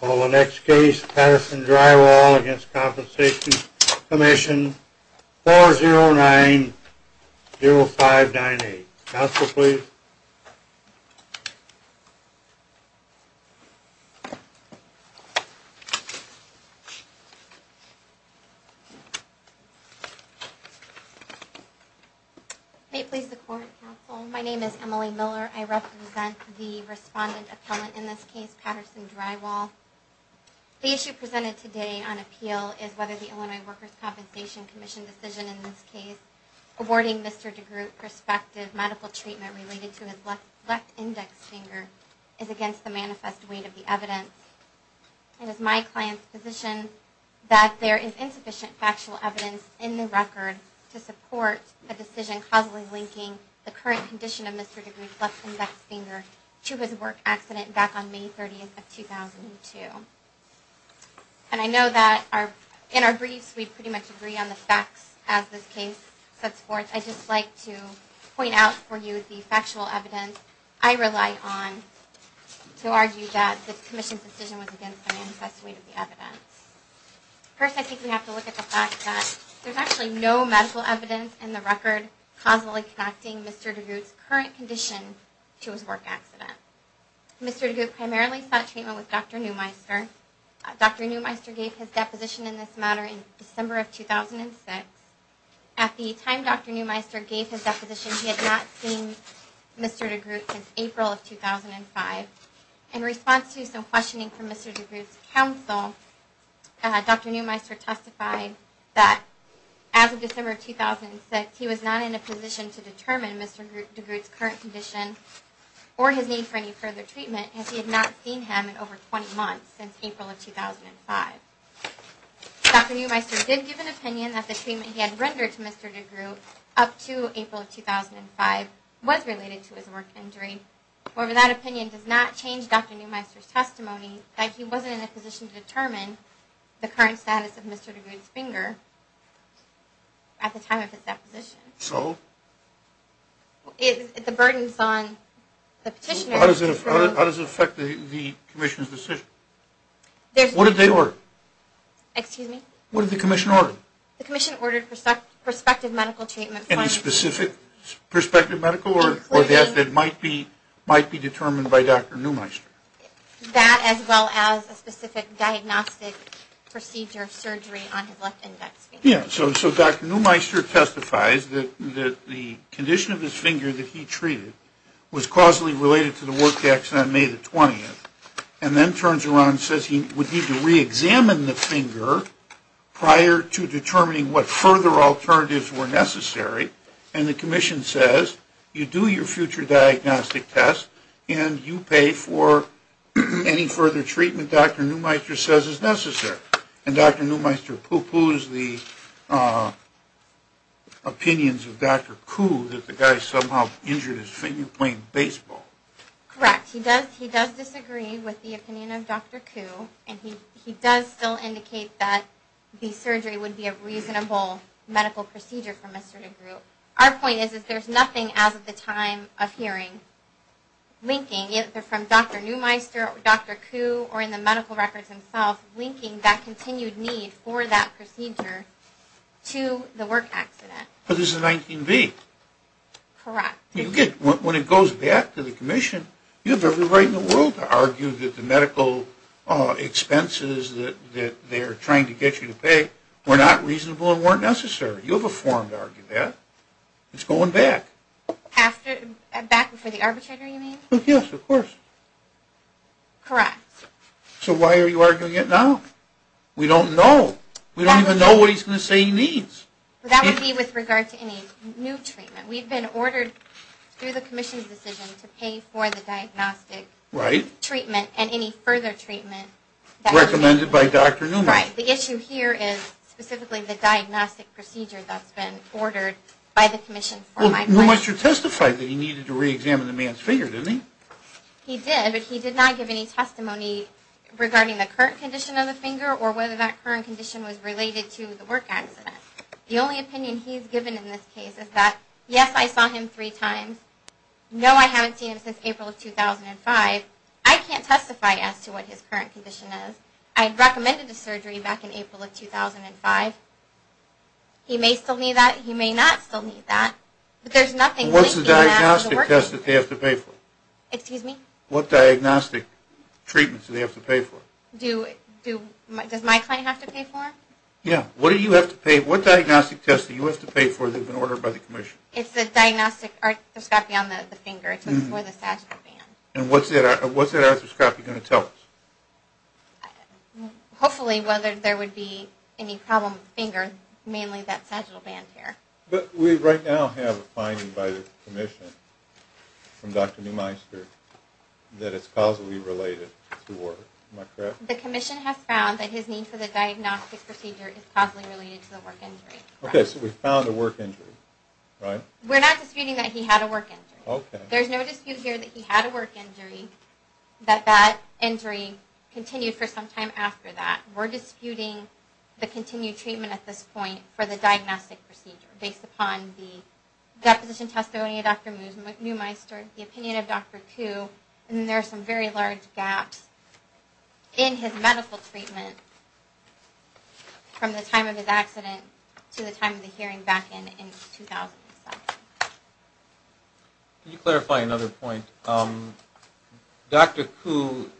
Call the next case, Patterson Drywall v. Workers' Compensation Comm'n, 4090598. Counsel, please. May it please the Court, Counsel. My name is Emily Miller. I represent the respondent appellant in this case, Patterson Drywall. The issue presented today on appeal is whether the Illinois Workers' Compensation Commission decision in this case, awarding Mr. DeGroote prospective medical treatment related to his left index finger, is against the manifest weight of the evidence. It is my client's position that there is insufficient factual evidence in the record to support a decision causally linking the current condition of Mr. DeGroote's left index finger to his work accident back on May 30, 2002. And I know that in our briefs we pretty much agree on the facts as this case sets forth. I'd just like to point out for you the factual evidence I rely on to argue that the Commission's decision was against the manifest weight of the evidence. First, I think we have to look at the fact that there's actually no medical evidence in the record causally connecting Mr. DeGroote's current condition to his work accident. Mr. DeGroote primarily sought treatment with Dr. Neumeister. Dr. Neumeister gave his deposition in this matter in December of 2006. At the time Dr. Neumeister gave his deposition, he had not seen Mr. DeGroote since April of 2005. In response to some questioning from Mr. DeGroote's counsel, Dr. Neumeister testified that as of December of 2006, he was not in a position to determine Mr. DeGroote's current condition or his need for any further treatment as he had not seen him in over 20 months since April of 2005. Dr. Neumeister did give an opinion that the treatment he had rendered to Mr. DeGroote up to April of 2005 was related to his work injury. However, that opinion does not change Dr. Neumeister's testimony that he wasn't in a position to determine the current status of Mr. DeGroote's finger at the time of his deposition. So? The burdens on the petitioner... How does it affect the commission's decision? There's... What did they order? Excuse me? What did the commission order? The commission ordered prospective medical treatment... Specific prospective medical or death that might be determined by Dr. Neumeister? That as well as a specific diagnostic procedure of surgery on his left index finger. Yeah, so Dr. Neumeister testifies that the condition of his finger that he treated was causally related to the work accident on May the 20th and then turns around and says he would need to re-examine the finger prior to determining what further alternatives were necessary. And the commission says, you do your future diagnostic test and you pay for any further treatment Dr. Neumeister says is necessary. And Dr. Neumeister pooh-poohs the opinions of Dr. Koo that the guy somehow injured his finger playing baseball. Correct. He does disagree with the opinion of Dr. Koo and he does still indicate that the surgery would be a reasonable medical procedure from a certain group. Our point is that there's nothing as of the time of hearing linking either from Dr. Neumeister or Dr. Koo or in the medical records themselves linking that continued need for that procedure to the work accident. But it's a 19V. Correct. When it goes back to the commission, you have every right in the world to argue that the medical expenses that they're trying to get you to pay were not reasonable and weren't necessary. You have a forum to argue that. It's going back. Back before the arbitrator you mean? Yes, of course. Correct. So why are you arguing it now? We don't know. We don't even know what he's going to say he needs. That would be with regard to any new treatment. We've been ordered through the commission's decision to pay for the diagnostic treatment and any further treatment. Recommended by Dr. Neumeister. Right. The issue here is specifically the diagnostic procedure that's been ordered by the commission. Neumeister testified that he needed to reexamine the man's finger, didn't he? He did, but he did not give any testimony regarding the current condition of the finger or whether that current condition was related to the work accident. The only opinion he's given in this case is that, yes, I saw him three times. No, I haven't seen him since April of 2005. I can't testify as to what his current condition is. I recommended the surgery back in April of 2005. He may still need that. He may not still need that. But there's nothing linking that to the work accident. What's the diagnostic test that they have to pay for? Excuse me? What diagnostic treatments do they have to pay for? Does my client have to pay for them? Yeah. What do you have to pay? What diagnostic test do you have to pay for that's been ordered by the commission? It's the diagnostic arthroscopy on the finger. It's for the sagittal band. And what's that arthroscopy going to tell us? Hopefully whether there would be any problem with the finger, mainly that sagittal band there. But we right now have a finding by the commission from Dr. Neumeister that it's causally related to work. Am I correct? The commission has found that his need for the diagnostic procedure is causally related to the work injury. Okay, so we found a work injury, right? We're not disputing that he had a work injury. There's no dispute here that he had a work injury, that that injury continued for some time after that. We're disputing the continued treatment at this point for the diagnostic procedure based upon the deposition testimony of Dr. Neumeister, the opinion of Dr. Koo, and there are some very large gaps in his medical treatment from the time of his accident to the time of the hearing back in 2007. Can you clarify another point? Dr. Koo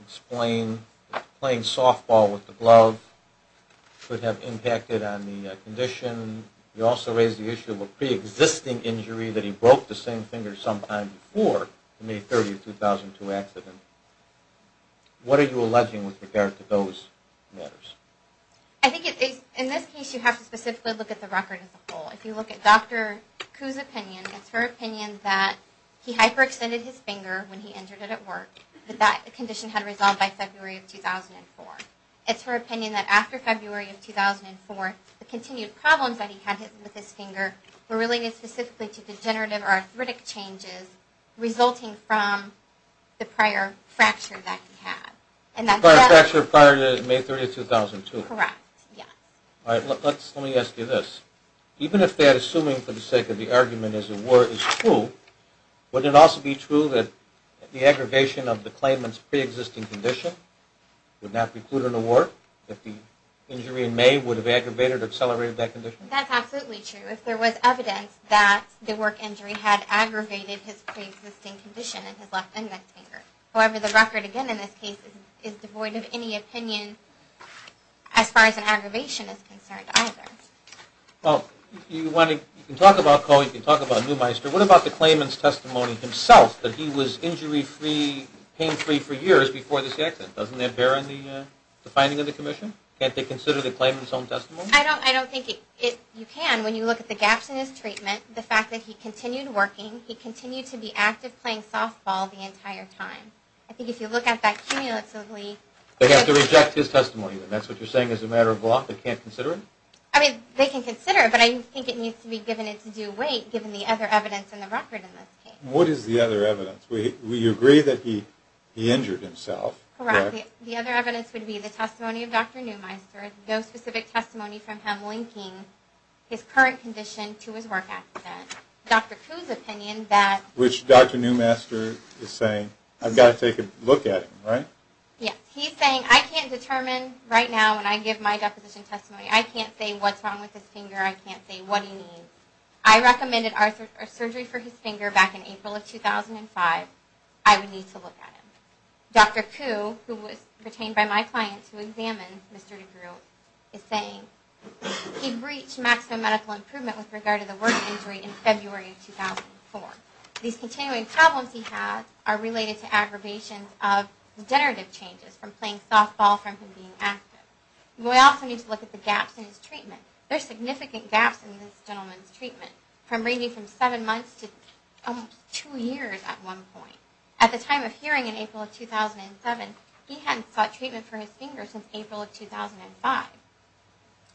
explained playing softball with the glove could have impacted on the condition. You also raised the issue of a preexisting injury that he broke the same finger sometime before the May 30, 2002 accident. What are you alleging with regard to those matters? I think in this case you have to specifically look at the record as a whole. If you look at Dr. Koo's opinion, it's her opinion that he hyperextended his finger when he injured it at work, that that condition had resolved by February of 2004. It's her opinion that after February of 2004, the continued problems that he had with his finger were related specifically to degenerative or arthritic changes resulting from the prior fracture that he had. The prior fracture prior to May 30, 2002. Correct, yes. All right, let me ask you this. Even if that, assuming for the sake of the argument, is true, would it also be true that the aggravation of the claimant's preexisting condition would not preclude an award if the injury in May would have aggravated or accelerated that condition? That's absolutely true. If there was evidence that the work injury had aggravated his preexisting condition in his left index finger. However, the record again in this case is devoid of any opinion as far as an aggravation is concerned either. Well, you can talk about Koo. You can talk about Neumeister. What about the claimant's testimony himself that he was injury-free, pain-free for years before this accident? Doesn't that bear in the finding of the commission? Can't they consider the claimant's own testimony? I don't think you can. When you look at the gaps in his treatment, the fact that he continued working, he continued to be active playing softball the entire time. I think if you look at that cumulatively. They have to reject his testimony. That's what you're saying is a matter of law? They can't consider it? I mean, they can consider it, but I think it needs to be given its due weight given the other evidence in the record in this case. What is the other evidence? We agree that he injured himself. Correct. The other evidence would be the testimony of Dr. Neumeister, no specific testimony from him linking his current condition to his work accident. Dr. Koo's opinion that... Which Dr. Neumeister is saying, I've got to take a look at him, right? Yes. He's saying, I can't determine right now when I give my deposition testimony. I can't say what's wrong with his finger. I can't say what he needs. I recommended surgery for his finger back in April of 2005. I would need to look at him. Dr. Koo, who was retained by my clients who examined Mr. DeGruy, is saying he breached maximum medical improvement with regard to the work injury in February of 2004. These continuing problems he has are related to aggravation of degenerative changes from playing softball from him being active. We also need to look at the gaps in his treatment. There are significant gaps in this gentleman's treatment, ranging from seven months to almost two years at one point. At the time of hearing in April of 2007, he hadn't sought treatment for his finger since April of 2005.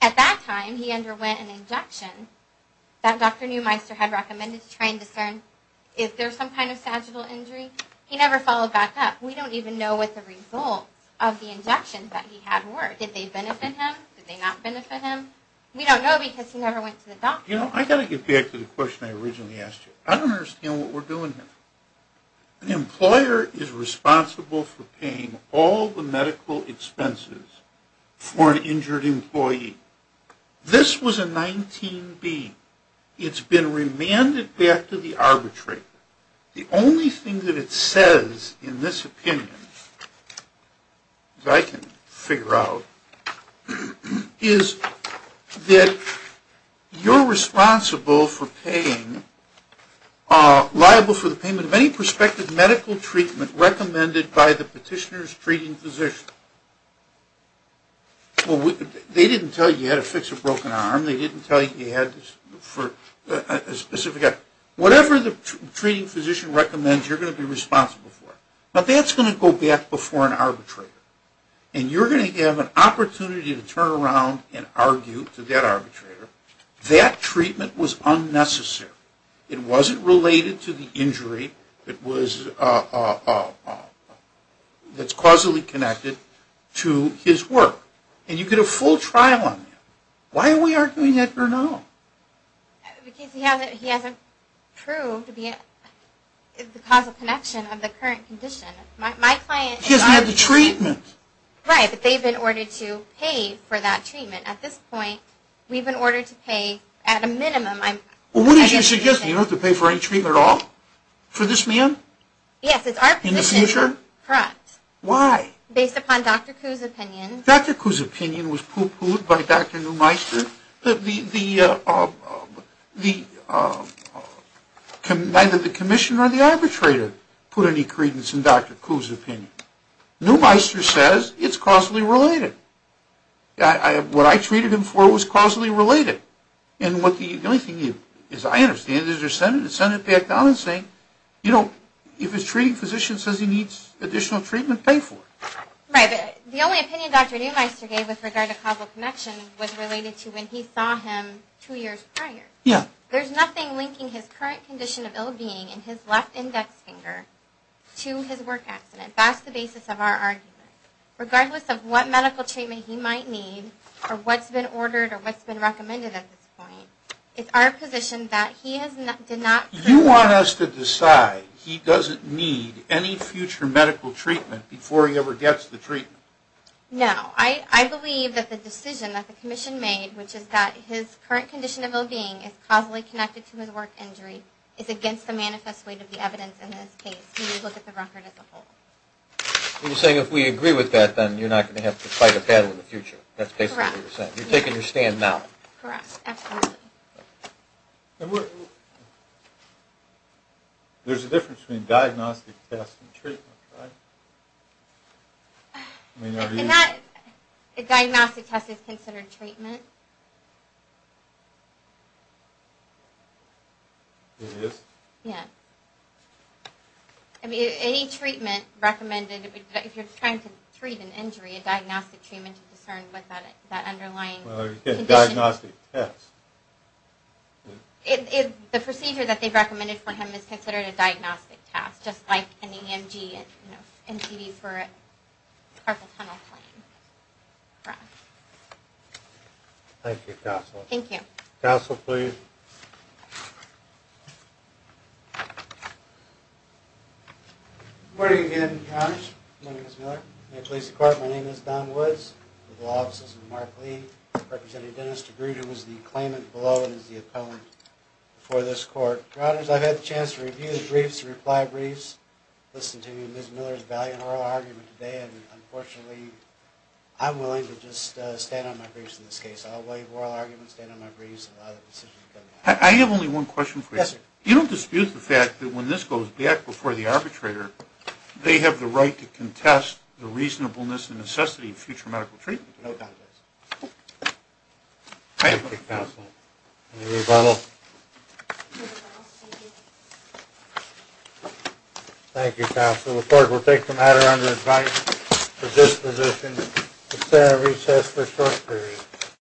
At that time, he underwent an injection that Dr. Neumeister had recommended to try and discern if there was some kind of sagittal injury. He never followed back up. We don't even know what the results of the injections that he had were. Did they benefit him? Did they not benefit him? We don't know because he never went to the doctor. You know, I've got to get back to the question I originally asked you. I don't understand what we're doing here. An employer is responsible for paying all the medical expenses for an injured employee. This was a 19B. It's been remanded back to the arbitrator. The only thing that it says in this opinion, as I can figure out, is that you're responsible for paying liable for the payment of any prospective medical treatment recommended by the petitioner's treating physician. They didn't tell you you had to fix a broken arm. They didn't tell you you had to for a specific eye. Whatever the treating physician recommends, you're going to be responsible for it. But that's going to go back before an arbitrator. And you're going to have an opportunity to turn around and argue to that arbitrator, that treatment was unnecessary. It wasn't related to the injury that's causally connected to his work. And you get a full trial on that. Why are we arguing that for now? Because he hasn't proved the causal connection of the current condition. He hasn't had the treatment. Right, but they've been ordered to pay for that treatment. At this point, we've been ordered to pay at a minimum. Well, what did you suggest? You don't have to pay for any treatment at all? For this man? Yes, it's our position. In the future? Correct. Why? Based upon Dr. Koo's opinion. Dr. Koo's opinion was poo-pooed by Dr. Neumeister? Neumeister, neither the commissioner or the arbitrator put any credence in Dr. Koo's opinion. Neumeister says it's causally related. What I treated him for was causally related. And the only thing, as I understand it, is they're sending it back down and saying, you know, if a treating physician says he needs additional treatment, pay for it. Right. The only opinion Dr. Neumeister gave with regard to causal connection was related to when he saw him two years prior. Yeah. There's nothing linking his current condition of ill-being and his left index finger to his work accident. That's the basis of our argument. Regardless of what medical treatment he might need or what's been ordered or what's been recommended at this point, it's our position that he did not... You want us to decide he doesn't need any future medical treatment before he ever gets the treatment? No. I believe that the decision that the commission made, which is that his current condition of ill-being is causally connected to his work injury, is against the manifest weight of the evidence in this case. We look at the record as a whole. You're saying if we agree with that, then you're not going to have to fight a battle in the future. That's basically what you're saying. Correct. You're taking your stand now. Correct. Absolutely. There's a difference between diagnostic tests and treatment, right? I mean, are these... A diagnostic test is considered treatment. It is? Yeah. I mean, any treatment recommended, if you're trying to treat an injury, a diagnostic treatment is concerned with that underlying condition. A diagnostic test. The procedure that they've recommended for him is considered a diagnostic test, just like an EMG, an NCD for a carpal tunnel plane. Thank you, Counselor. Thank you. Counselor, please. Good morning again, Counselors. My name is Miller. I'm with the Police Department. My name is Don Woods. I'm with the Law Offices of Mark Lee. Representative Dennis DeGroote, who is the claimant below and is the appellant for this court. Your Honors, I've had the chance to review the briefs, reply briefs, listen to Ms. Miller's valiant oral argument today, and unfortunately I'm willing to just stand on my briefs in this case. I'll waive oral arguments, stand on my briefs, and allow the decision to come down. I have only one question for you. Yes, sir. You don't dispute the fact that when this goes back before the arbitrator, they have the right to contest the reasonableness and necessity of future medical treatment. No contest. Thank you, Counselor. Any rebuttal? Thank you, Counselor. The court will take the matter under advice of this position. The hearing is recessed for a short period.